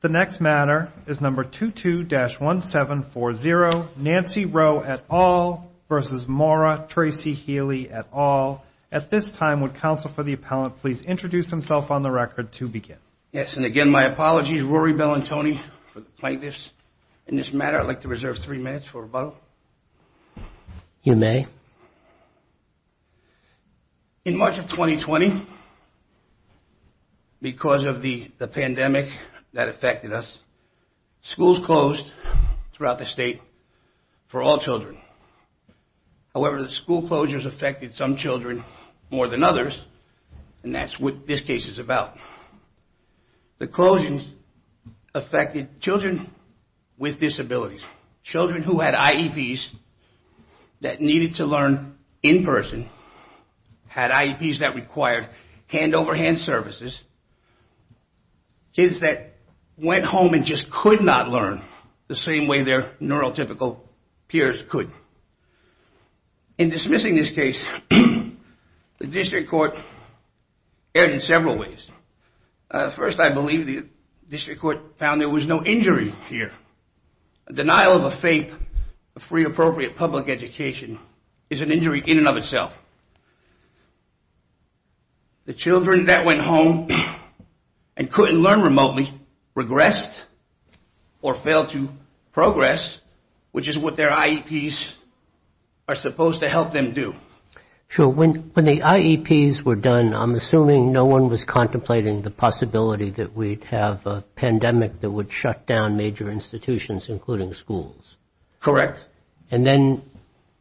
The next matter is number 22-1740 Nancy Roe et al. versus Maura Tracy Healey et al. At this time would counsel for the appellant please introduce himself on the record to begin. Yes and again my apologies Rory Bell and Tony for the plaintiffs in this matter. I'd like to reserve three minutes for a vote. You may. In March of 2020 because of the pandemic that affected us schools closed throughout the state for all children. However the school closures affected some children more than others and that's what this case is about. The closings affected children with disabilities children who had IEPs that needed to learn in person had IEPs that required hand-over-hand services. Kids that went home and just could not learn the same way their neurotypical peers could. In dismissing this case the district court erred in several ways. First I believe the free appropriate public education is an injury in and of itself. The children that went home and couldn't learn remotely regressed or failed to progress which is what their IEPs are supposed to help them do. Sure when when the IEPs were done I'm assuming no one was contemplating the possibility that we'd have a pandemic that would shut down major institutions including schools. Correct. And then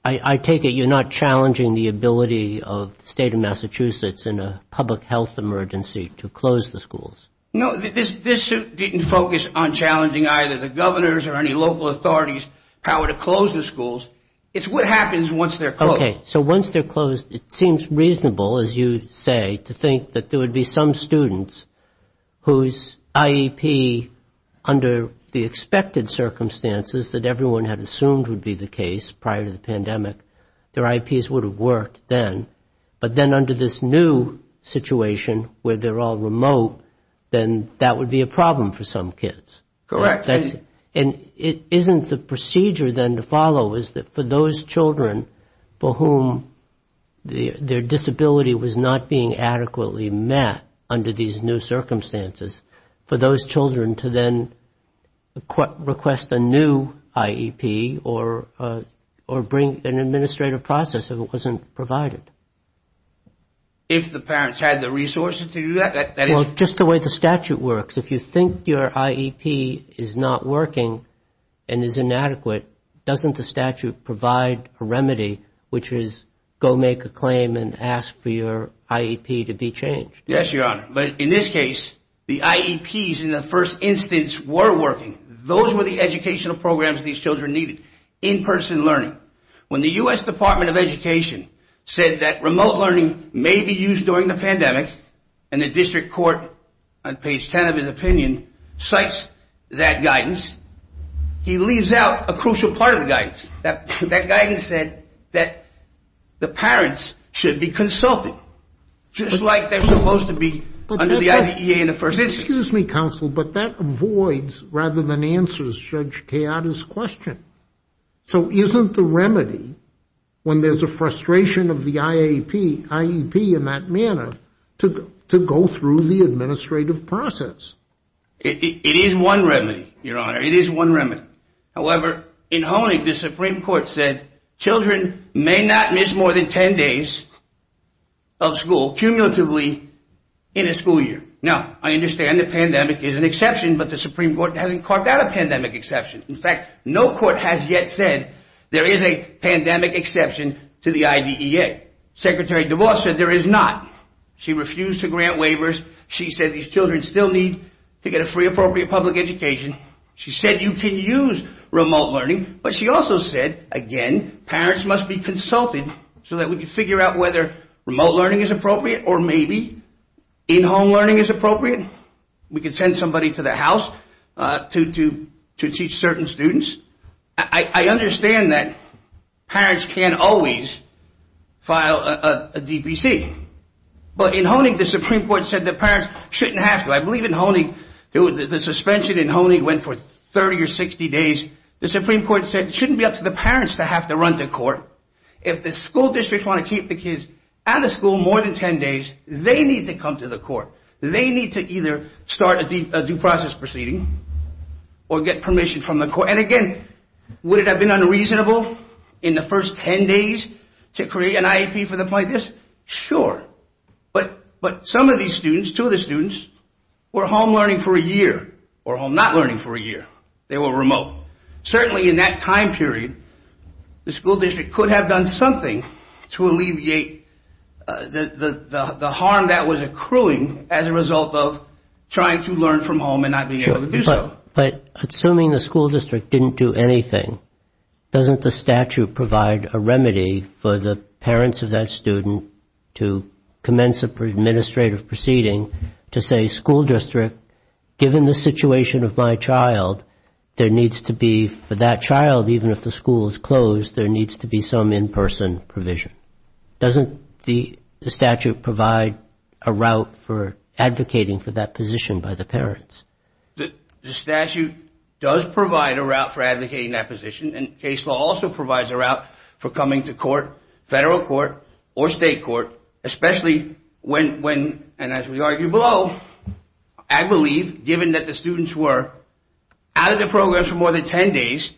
I take it you're not challenging the ability of the state of Massachusetts in a public health emergency to close the schools. No this didn't focus on challenging either the governors or any local authorities how to close the schools. It's what happens once they're closed. Okay so once they're closed it seems reasonable as you say to think that there would be some students whose IEP under the expected circumstances that everyone had assumed would be the case prior to the pandemic their IEPs would have worked then but then under this new situation where they're all remote then that would be a problem for some kids. Correct. And it isn't the procedure then to follow is that for those children for whom the their circumstances for those children to then request a new IEP or bring an administrative process if it wasn't provided. If the parents had the resources to do that. Well just the way the statute works if you think your IEP is not working and is inadequate doesn't the statute provide a remedy which is go make a claim and ask for your IEP to be changed. Yes your honor but in this case the IEPs in the first instance were working. Those were the educational programs these children needed in-person learning when the U.S. Department of Education said that remote learning may be used during the pandemic and the district court on page 10 of his opinion cites that guidance. He leaves out a crucial part of the guidance that that guidance said that the parents should be consulted just like they're supposed to be under the IDEA in the first. Excuse me counsel but that avoids rather than answers Judge Teodos question. So isn't the remedy when there's a frustration of the IEP in that manner to go through the administrative process. It is one remedy your honor it is one remedy. However in Honig the supreme court said children may not miss more than 10 days of school cumulatively in a school year. Now I understand the pandemic is an exception but the supreme court hasn't carved out a pandemic exception. In fact no court has yet said there is a pandemic exception to the IDEA. Secretary DeVos said there is not. She refused to grant waivers. She said these children still need to get a free appropriate public education. She said you can use remote learning but she also said again parents must be consulted so that we can figure out whether remote learning is appropriate or maybe in-home learning is appropriate. We can send somebody to the house to teach certain students. I understand that parents can't always file a DPC but in Honig the supreme court said the parents shouldn't have to. I believe in Honig the suspension in Honig went for 30 or 60 days. The supreme court said it shouldn't be up to the parents to have to run the court. If the school district want to keep the kids out of school more than 10 days they need to come to the court. They need to either start a due process proceeding or get permission from the court and again would it have been unreasonable in the first 10 days to create an IEP for them like this? Sure but some of these students, two of the students, were home learning for a year or home not learning for a year. They were remote. Certainly in that time period the school district could have done something to alleviate the harm that was accruing as a result of trying to learn from home and not being able to do so. But assuming the school district didn't do anything, doesn't the statute provide a route for advocating for that position by the parents? The statute does provide a route for advocating that position and case law also provides a especially when, and as we argue below, I believe given that the students were out of the program for more than 10 days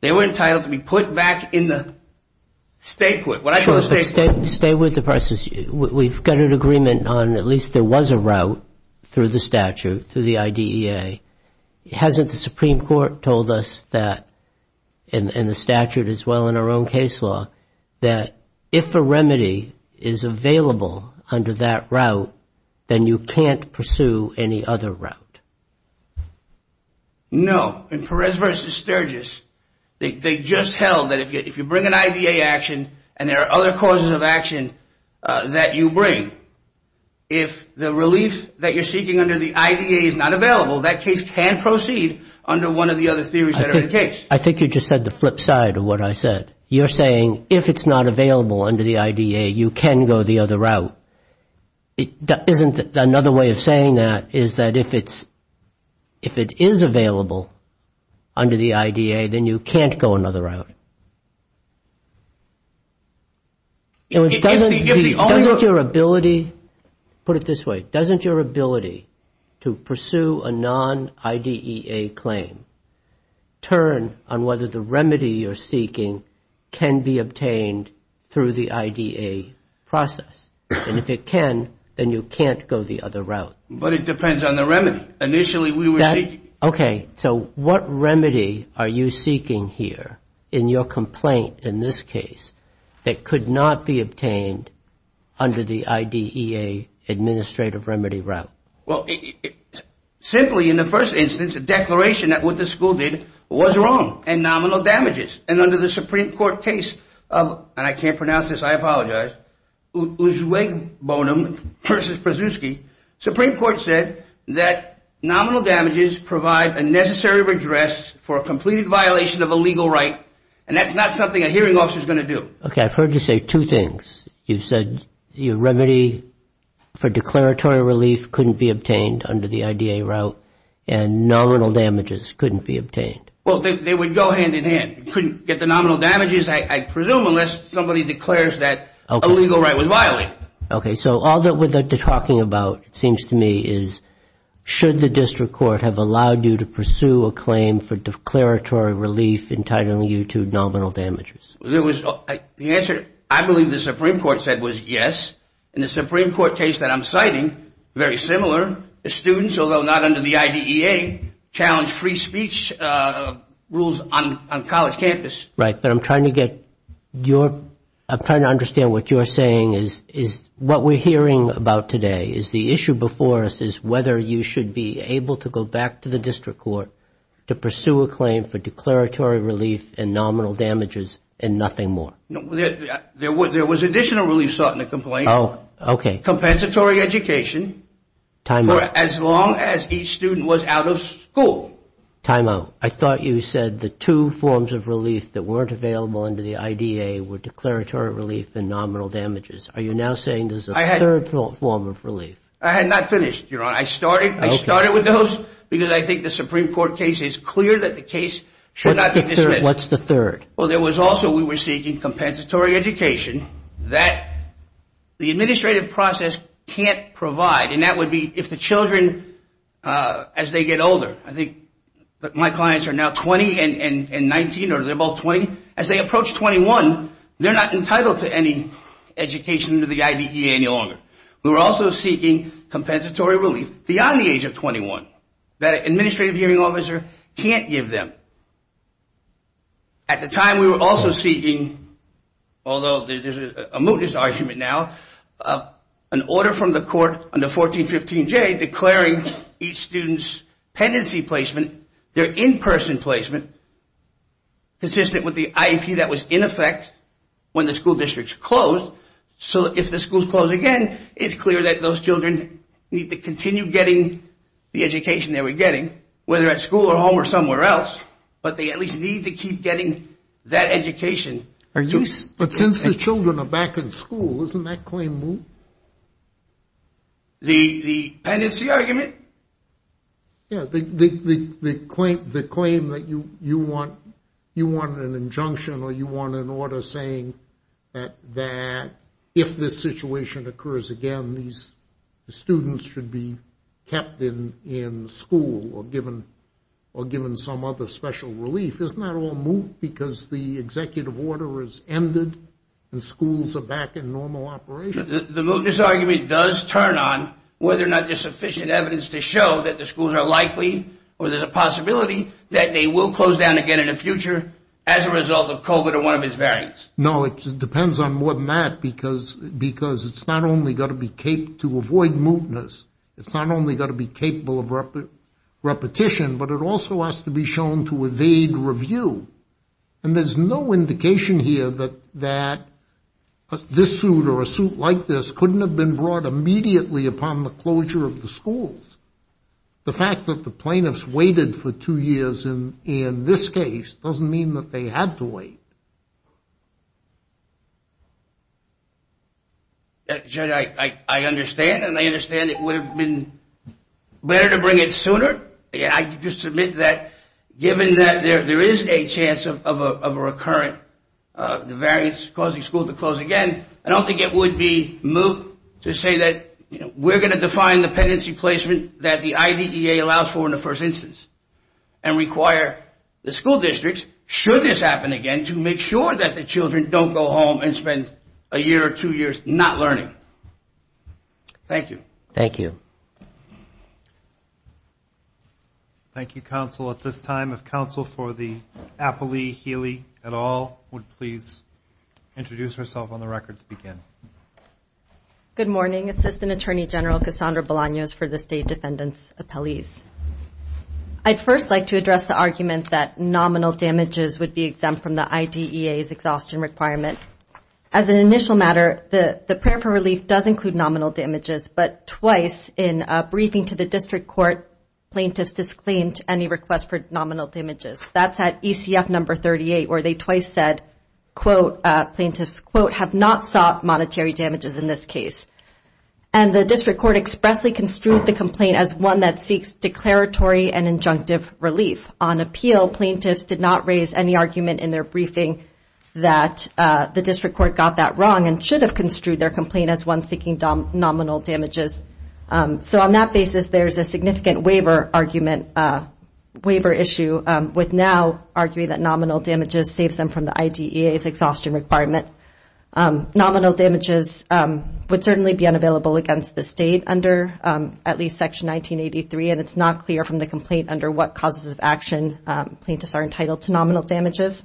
they were entitled to be put back in the state court. But stay with the process. We've got an agreement on at least there was a route through the statute through the IDEA. Hasn't the supreme court told us that and the statute as well in our own case law that if a remedy is available under that route then you can't pursue any other route? No. In Perez versus Sturgis they just held that if you bring an IDEA action and there are other causes of action that you bring, if the relief that you're seeking under the IDEA is not available that case can proceed under one of the other theories that are in case. I think you just said the flip side of what I said. You're saying if it's not available under the IDEA you can go the other route. Isn't another way of saying that is that if it's, if it is available under the IDEA then you can't go another route? Doesn't your ability, put it this way, doesn't your ability to pursue a non-IDEA claim turn on whether the remedy you're seeking can be obtained through the IDEA process? And if it can then you can't go the other route. But it depends on the remedy. Initially we were seeking. Okay. So what remedy are you seeking here in your complaint in this case that could not be obtained under the IDEA administrative remedy route? Well, simply in the first instance, the declaration that what the school did was wrong and nominal damages. And under the Supreme Court case of, and I can't pronounce this, I apologize, Uzwegbonem versus Przewski, Supreme Court said that nominal damages provide a necessary redress for a completed violation of a legal right and that's not something a hearing officer is going to do. Okay. I've heard you say two things. You said your remedy for declaratory relief couldn't be obtained under the IDEA route and nominal damages couldn't be obtained. Well, they would go hand in hand. You couldn't get the nominal damages, I presume, unless somebody declares that a legal right was violated. Okay. So all that we're talking about, it seems to me, is should the district court have allowed you to pursue a claim for declaratory relief entitling you to nominal damages? There was, the answer I believe the Supreme Court said was yes. And the Supreme Court case that I'm citing, very similar, the students, although not under the IDEA, challenged free speech rules on college campus. Right. But I'm trying to get your, I'm trying to understand what you're saying is what we're hearing about today is the issue before us is whether you should be able to go back to the district court to pursue a claim for declaratory relief and nominal damages and nothing more. There was additional relief sought in the complaint. Oh, okay. Compensatory education for as long as each student was out of school. Time out. I thought you said the two forms of relief that weren't available under the IDEA were declaratory relief and nominal damages. Are you now saying there's a third form of relief? I had not finished, Your Honor. I started with those because I think the Supreme Court case is clear that the case should not be dismissed. What's the third? Well, there was also, we were seeking compensatory education that the administrative process can't provide. And that would be if the children, as they get older, I think my clients are now 20 and 19, or they're both 20. As they approach 21, they're not entitled to any education under the IDEA any longer. We were also seeking compensatory relief beyond the age of 21 that an administrative hearing officer can't give them. At the time, we were also seeking, although there's a mootness argument now, an order from the court under 1415J declaring each student's pendency placement, their in-person placement, consistent with the IEP that was in effect when the school districts closed. So if the school's closed again, it's clear that those children need to continue getting the education they were getting, whether at school or home or somewhere else. But they at least need to keep getting that education. But since the children are back in school, isn't that claim moot? The pendency argument? Yeah, the claim that you want an injunction or you want an order saying that if this situation occurs again, these students should be kept in school or given some other special relief. Isn't that all moot? Because the executive order has ended and schools are back in normal operation. The mootness argument does turn on whether or not there's sufficient evidence to show that the schools are likely, or there's a possibility that they will close down again in the future as a result of COVID or one of its variants. No, it depends on more than that, because it's not only got to be caped to avoid mootness. It's not only got to be capable of repetition, but it also has to be shown to evade review. And there's no indication here that this suit or a suit like this couldn't have been brought immediately upon the closure of the schools. The fact that the plaintiffs waited for two years in this case doesn't mean that they had to wait. I understand and I understand it would have been better to bring it sooner. I just submit that given that there is a chance of a recurrent, the variants causing school to close again, I don't think it would be moot to say that we're going to define the pendency placement that the IDEA allows for in the first instance and require the school districts, should this happen again, to make sure that the children don't go home and spend a year or two years not learning. Thank you. Thank you. Thank you, counsel. At this time, if counsel for the Appley Healy et al would please introduce herself on the record to begin. Good morning, Assistant Attorney General Cassandra Bolaños for the State Defendant's Appellees. I'd first like to address the argument that nominal damages would be exempt from the IDEA's exhaustion requirement. As an initial matter, the prayer for relief does include nominal damages, but twice in a briefing to the district court, plaintiffs disclaimed any request for nominal damages. That's at ECF number 38, where they twice said, quote, plaintiffs, quote, have not sought monetary damages in this case. And the district court expressly construed the complaint as one that seeks declaratory and injunctive relief. On appeal, plaintiffs did not raise any argument in their briefing that the district court got that wrong and should have construed their complaint as one seeking nominal damages. So on that basis, there's a significant waiver argument, waiver issue with now arguing that nominal damages saves them from the IDEA's exhaustion requirement. Nominal damages would certainly be unavailable against the state under at least section 1983, and it's not clear from the complaint under what causes of action plaintiffs are entitled to nominal damages.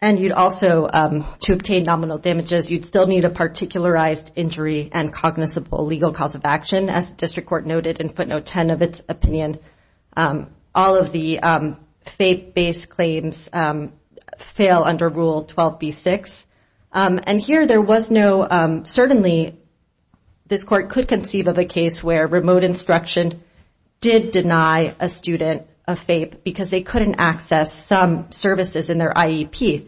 And you'd also, to obtain nominal damages, you'd still need a particularized injury and cognizable legal cause of action, as the district court noted in footnote 10 of its opinion. And all of the FAPE-based claims fail under Rule 12b-6. And here there was no, certainly, this court could conceive of a case where remote instruction did deny a student a FAPE because they couldn't access some services in their IEP.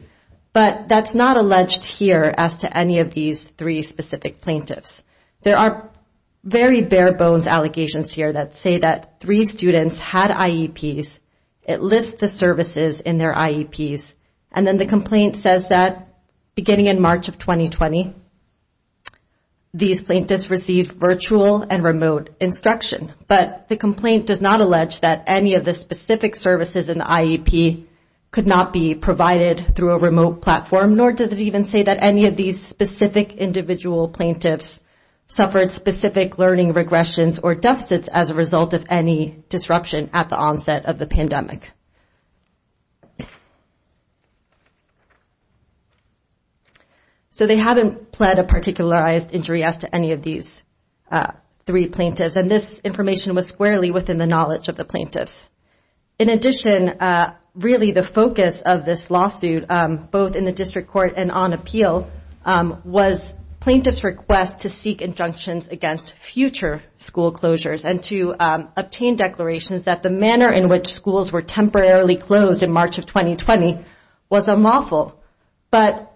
But that's not alleged here as to any of these three specific plaintiffs. There are very bare bones allegations here that say that three students had IEPs. It lists the services in their IEPs. And then the complaint says that beginning in March of 2020, these plaintiffs received virtual and remote instruction. But the complaint does not allege that any of the specific services in the IEP could not be provided through a remote platform, nor does it even say that any of these specific individual plaintiffs suffered specific learning regressions or deficits as a result of any disruption at the onset of the pandemic. So they haven't pled a particularized injury as to any of these three plaintiffs. And this information was squarely within the knowledge of the plaintiffs. In addition, really the focus of this lawsuit, both in the district court and on appeal, was plaintiffs' request to seek injunctions against future school closures and to obtain declarations that the manner in which schools were temporarily closed in March of 2020 was unlawful. But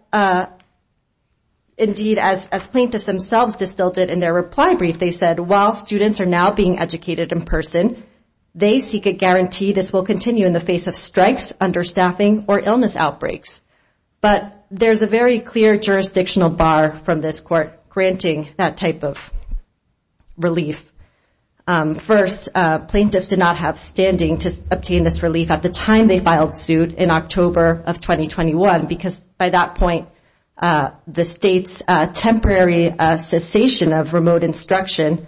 indeed, as plaintiffs themselves distilled it in their reply brief, they said, while students are now being educated in person, they seek a guarantee this will continue in the face of strikes, understaffing, or illness outbreaks. But there's a very clear jurisdictional bar from this court granting that type of relief. First, plaintiffs did not have standing to obtain this relief at the time they filed suit in October of 2021, because by that point, the state's temporary cessation of remote instruction,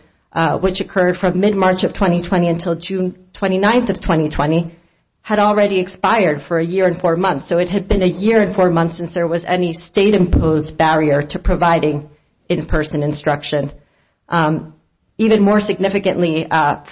which occurred from mid-March of 2020 until June 29th of 2020, had already expired for a year and four months. So it had been a year and four months since there was any state-imposed barrier to providing in-person instruction. Even more significantly,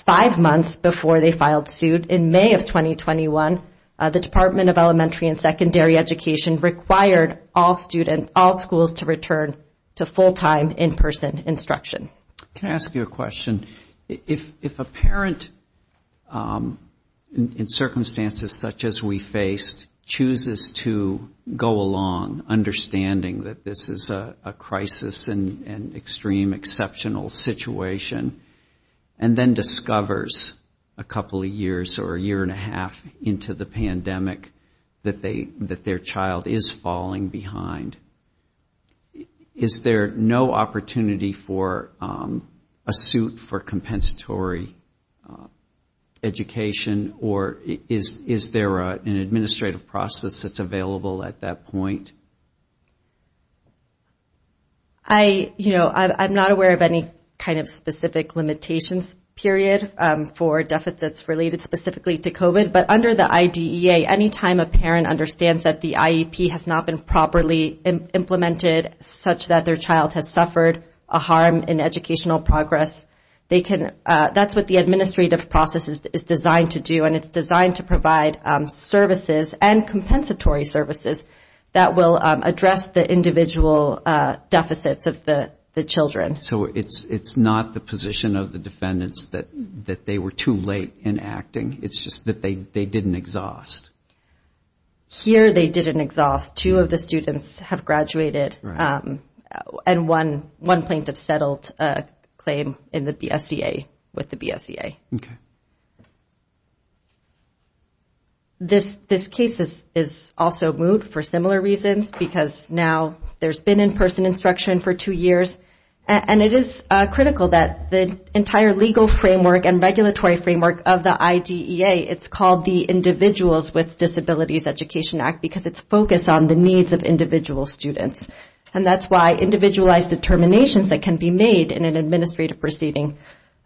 five months before they filed suit, in May of 2021, the Department of Elementary and Secondary Education required all schools to return to full-time in-person instruction. Can I ask you a question? If a parent, in circumstances such as we faced, chooses to go along, understanding that this is a crisis and extreme exceptional situation, and then discovers a couple of years or a year and a half into the pandemic that their child is falling behind, is there no opportunity for a suit for compensatory education? Or is there an administrative process that's available at that point? I, you know, I'm not aware of any kind of specific limitations, period, for deficits related specifically to COVID. But under the IDEA, any time a parent understands that the IEP has not been properly implemented, such that their child has suffered a harm in educational progress, they can, that's what the administrative process is designed to do. And it's designed to provide services and compensatory services that will address the individual deficits of the children. So it's not the position of the defendants that they were too late in acting. It's just that they didn't exhaust. Here, they didn't exhaust. Two of the students have graduated. And one plaintiff settled a claim in the BSEA with the BSEA. Okay. This case is also moved for similar reasons because now there's been in-person instruction for two years. And it is critical that the entire legal framework and regulatory framework of the IDEA, it's called the Individuals with Disabilities Education Act because it's focused on the needs of individual students. And that's why individualized determinations that can be made in an administrative proceeding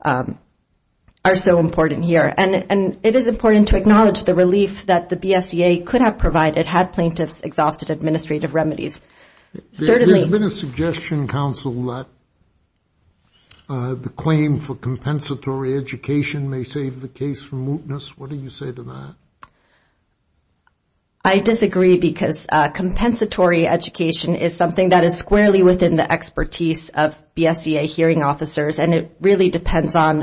are so important here. And it is important to acknowledge the relief that the BSEA could have provided had plaintiffs exhausted administrative remedies. There's been a suggestion, counsel, that the claim for compensatory education may save the case from mootness. What do you say to that? I disagree because compensatory education is something that is squarely within the expertise of BSEA hearing officers. And it really depends on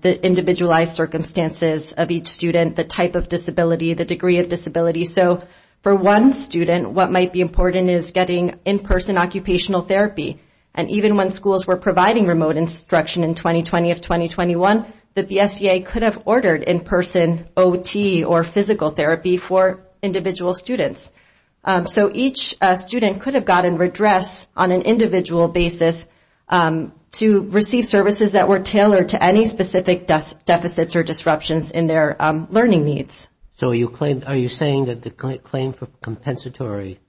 the individualized circumstances of each student, the type of disability, the degree of disability. So for one student, what might be important is getting in-person occupational therapy. And even when schools were providing remote instruction in 2020 of 2021, the BSEA could have ordered in-person OT or physical therapy for individual students. So each student could have gotten redress on an individual basis to receive services that were tailored to any specific deficits or disruptions in their learning needs. So are you saying that the claim for compensatory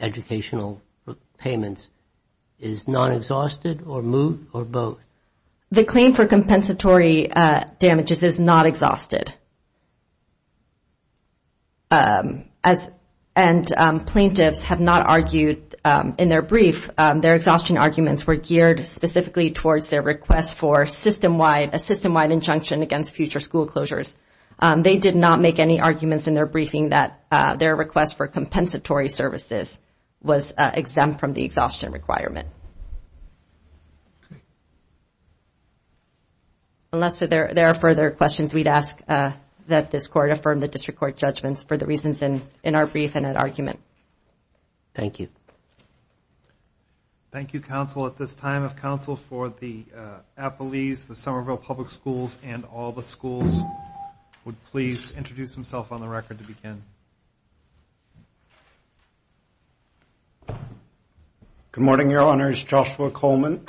educational payments is non-exhausted or moot or both? The claim for compensatory damages is not exhausted. And plaintiffs have not argued in their brief. Their exhaustion arguments were geared specifically towards their request for a system-wide injunction against future school closures. They did not make any arguments in their briefing that their request for compensatory services was exempt from the exhaustion requirement. Unless there are further questions, we'd ask that this court affirm the district court judgments for the reasons in our brief and that argument. Thank you. Thank you, counsel. At this time of counsel for the Appalese, the Somerville Public Schools, and all the schools, would please introduce himself on the record to begin. Good morning, Your Honors. Joshua Coleman,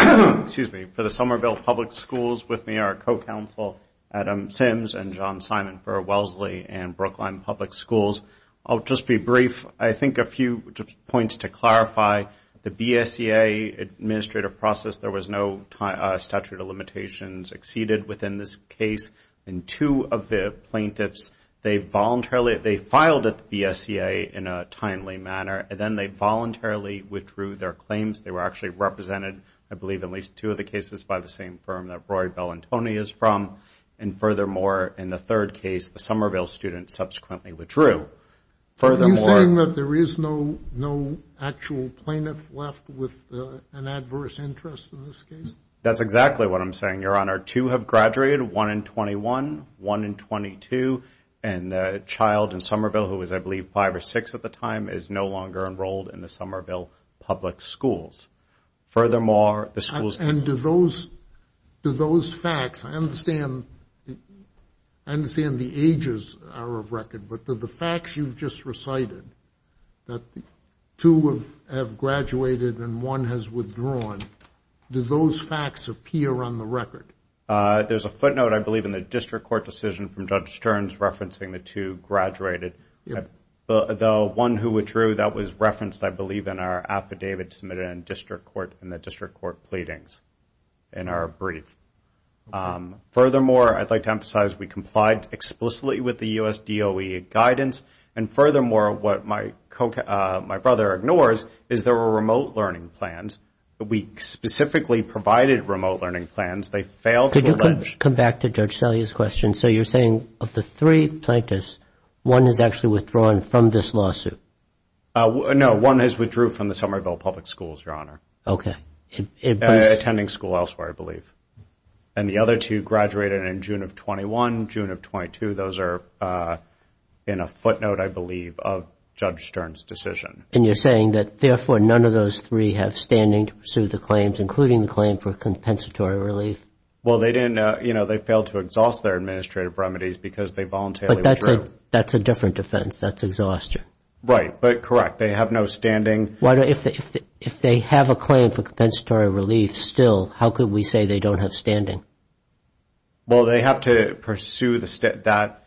excuse me, for the Somerville Public Schools. With me are co-counsel Adam Sims and John Simon for Wellesley and Brookline Public Schools. I'll just be brief. I think a few points to clarify. The BSEA administrative process, there was no statute of limitations exceeded within this case. And two of the plaintiffs, they voluntarily, they filed at the BSEA in a timely manner, and then they voluntarily withdrew their claims. They were actually represented, I believe, at least two of the cases by the same firm that Roy, Bell, and Tony is from. And furthermore, in the third case, the Somerville student subsequently withdrew. Are you saying that there is no actual plaintiff left with an adverse interest in this case? That's exactly what I'm saying, Your Honor. Two have graduated, one in 21, one in 22. And the child in Somerville, who was, I believe, five or six at the time, is no longer enrolled in the Somerville Public Schools. Furthermore, the schools- And do those facts, I understand the ages are of record, but do the facts you've just recited, that two have graduated and one has withdrawn, do those facts appear on the record? There's a footnote, I believe, in the district court decision from Judge Stearns The one who withdrew, that was referenced, I believe, in our affidavit submitted in district court in the district court pleadings in our brief. Furthermore, I'd like to emphasize we complied explicitly with the U.S. DOE guidance. And furthermore, what my brother ignores is there were remote learning plans. We specifically provided remote learning plans. They failed- Could you come back to Judge Salia's question? So you're saying of the three plaintiffs, one has actually withdrawn from this lawsuit? No, one has withdrew from the Somerville Public Schools, Your Honor, attending school elsewhere, I believe. And the other two graduated in June of 21, June of 22. Those are in a footnote, I believe, of Judge Stearns' decision. And you're saying that therefore, none of those three have standing to pursue the claims, including the claim for compensatory relief? Well, they failed to exhaust their administrative remedies because they voluntarily withdrew. That's a different defense. That's exhaustion. Right, but correct. They have no standing. If they have a claim for compensatory relief still, how could we say they don't have standing? Well, they have to pursue that.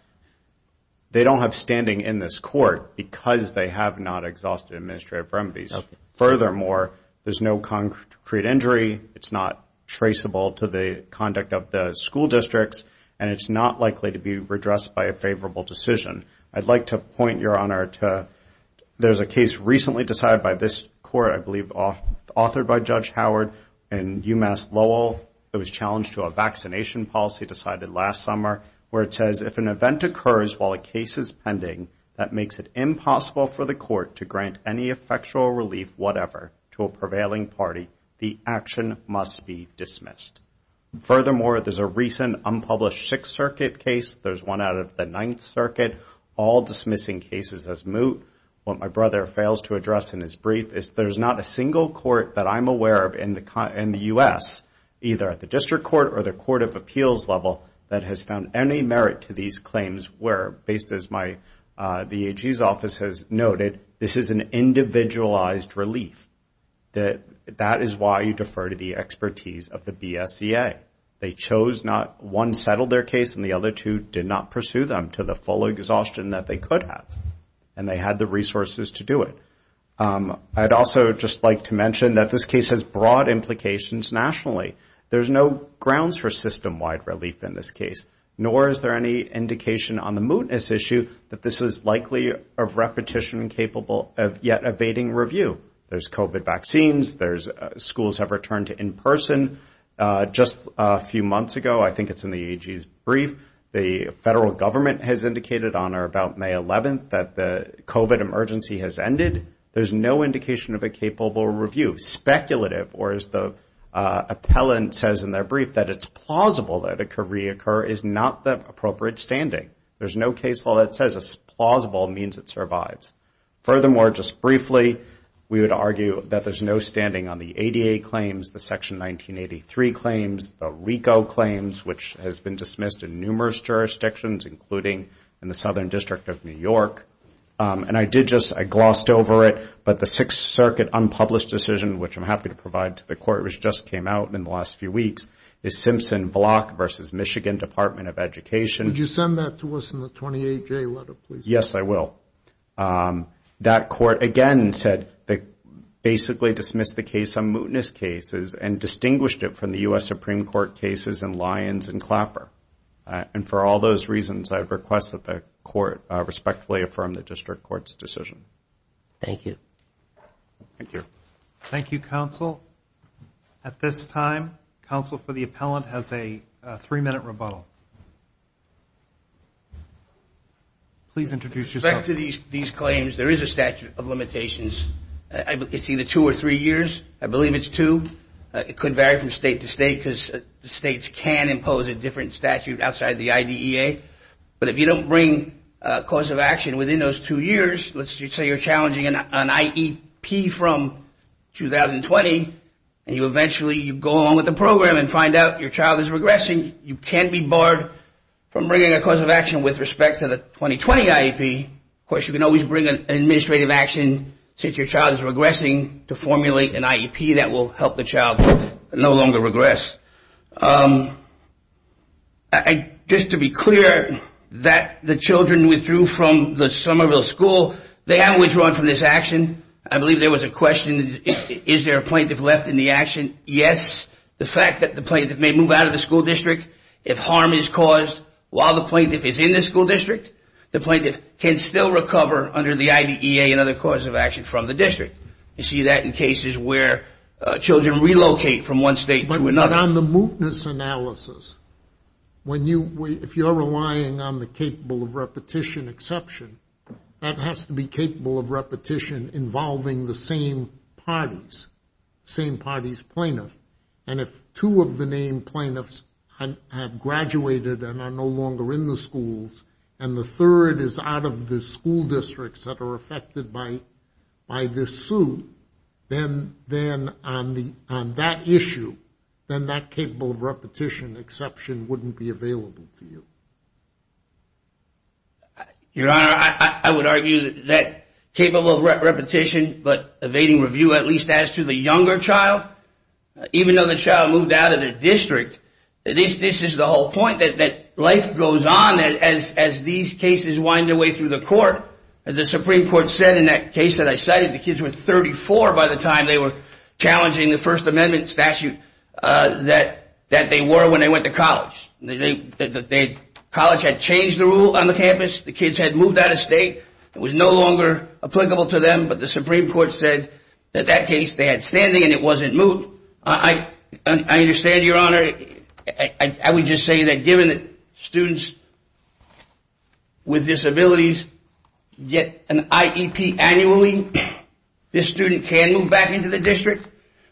They don't have standing in this court because they have not exhausted administrative remedies. Furthermore, there's no concrete injury. It's not traceable to the conduct of the school districts. And it's not likely to be redressed by a favorable decision. I'd like to point, Your Honor, to there's a case recently decided by this court, I believe, authored by Judge Howard in UMass Lowell. It was challenged to a vaccination policy decided last summer, where it says, if an event occurs while a case is pending, that makes it impossible for the court to grant any effectual relief, whatever, to a prevailing party, the action must be dismissed. Furthermore, there's a recent unpublished Sixth Circuit case. There's one out of the Ninth Circuit, all dismissing cases as moot. What my brother fails to address in his brief is there's not a single court that I'm aware of in the U.S., either at the district court or the court of appeals level, that has found any merit to these claims where, based as my VAG's office has noted, this is an individualized relief. That is why you defer to the expertise of the BSEA. They chose not one settled their case and the other two did not pursue them to the full exhaustion that they could have, and they had the resources to do it. I'd also just like to mention that this case has broad implications nationally. There's no grounds for system-wide relief in this case, nor is there any indication on the mootness issue that this is likely of repetition and capable of yet evading review. There's COVID vaccines, there's schools have returned to in-person. Just a few months ago, I think it's in the AG's brief, the federal government has indicated on or about May 11th that the COVID emergency has ended. There's no indication of a capable review. Speculative, or as the appellant says in their brief, that it's plausible that it could reoccur is not the appropriate standing. There's no case law that says a plausible means it survives. Furthermore, just briefly, we would argue that there's no standing on the ADA claims, the Section 1983 claims, the RICO claims, which has been dismissed in numerous jurisdictions, including in the Southern District of New York. And I did just, I glossed over it, but the Sixth Circuit unpublished decision, which I'm happy to provide to the court, which just came out in the last few weeks, is Simpson Block versus Michigan Department of Education. Would you send that to us in the 28-J letter, please? Yes, I will. That court, again, said they basically dismissed the case, some mootness cases, and distinguished it from the U.S. Supreme Court cases in Lyons and Clapper. And for all those reasons, I'd request that the court respectfully affirm the district court's decision. Thank you. Thank you. Thank you, counsel. At this time, counsel for the appellant has a three-minute rebuttal. Please introduce yourself. In respect to these claims, there is a statute of limitations. It's either two or three years. I believe it's two. It could vary from state to state, because states can impose a different statute outside the IDEA. But if you don't bring a cause of action within those two years, let's say you're challenging an IEP from 2020, and you eventually go along with the program and find out your child is regressing, you can't be barred from bringing a cause of action with respect to the 2020 IEP. Of course, you can always bring an administrative action since your child is regressing to formulate an IEP that will help the child no longer regress. Just to be clear, that the children withdrew from the Somerville School, they haven't withdrawn from this action. I believe there was a question, is there a plaintiff left in the action? Yes. The fact that the plaintiff may move out of the school district if harm is caused while the plaintiff is in the school district, the plaintiff can still recover under the IDEA and other causes of action from the district. You see that in cases where children relocate from one state to another. But on the mootness analysis, if you're relying on the capable of repetition exception, that has to be capable of repetition involving the same parties, same parties plaintiff. And if two of the named plaintiffs have graduated and are no longer in the schools, and the third is out of the school districts that are affected by this suit, then on that issue, then that capable of repetition exception wouldn't be available to you. Your Honor, I would argue that capable of repetition, but evading review, at least as to the younger child, even though the child moved out of the district, this is the whole point, that life goes on as these cases wind their way through the court. As the Supreme Court said in that case that I cited, the kids were 34 by the time they were challenging the First Amendment statute that they were when they went to college. College had changed the rule on the campus. The kids had moved out of state. It was no longer applicable to them. But the Supreme Court said that that case, they had standing and it wasn't moot. I understand, Your Honor. I would just say that given that students with disabilities get an IEP annually, this student can move back into the district.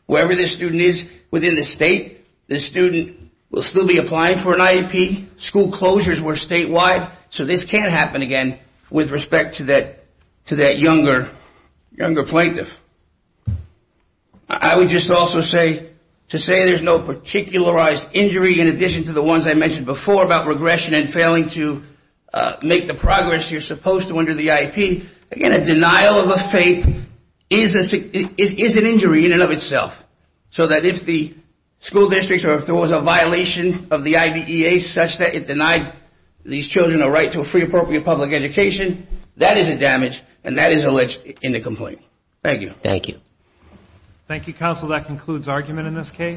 Wherever this student is within the state, this student will still be applying for an IEP. School closures were statewide. So this can happen again with respect to that younger plaintiff. I would just also say, to say there's no particularized injury in addition to the ones I mentioned before about regression and failing to make the progress you're supposed to under the IEP. Again, a denial of a fate is an injury in and of itself. So that if the school districts or if there was a violation of the IBEA such that it denied these children a right to a free appropriate public education, that is a damage and that is alleged in the complaint. Thank you. Thank you. Thank you, counsel. That concludes argument in this case.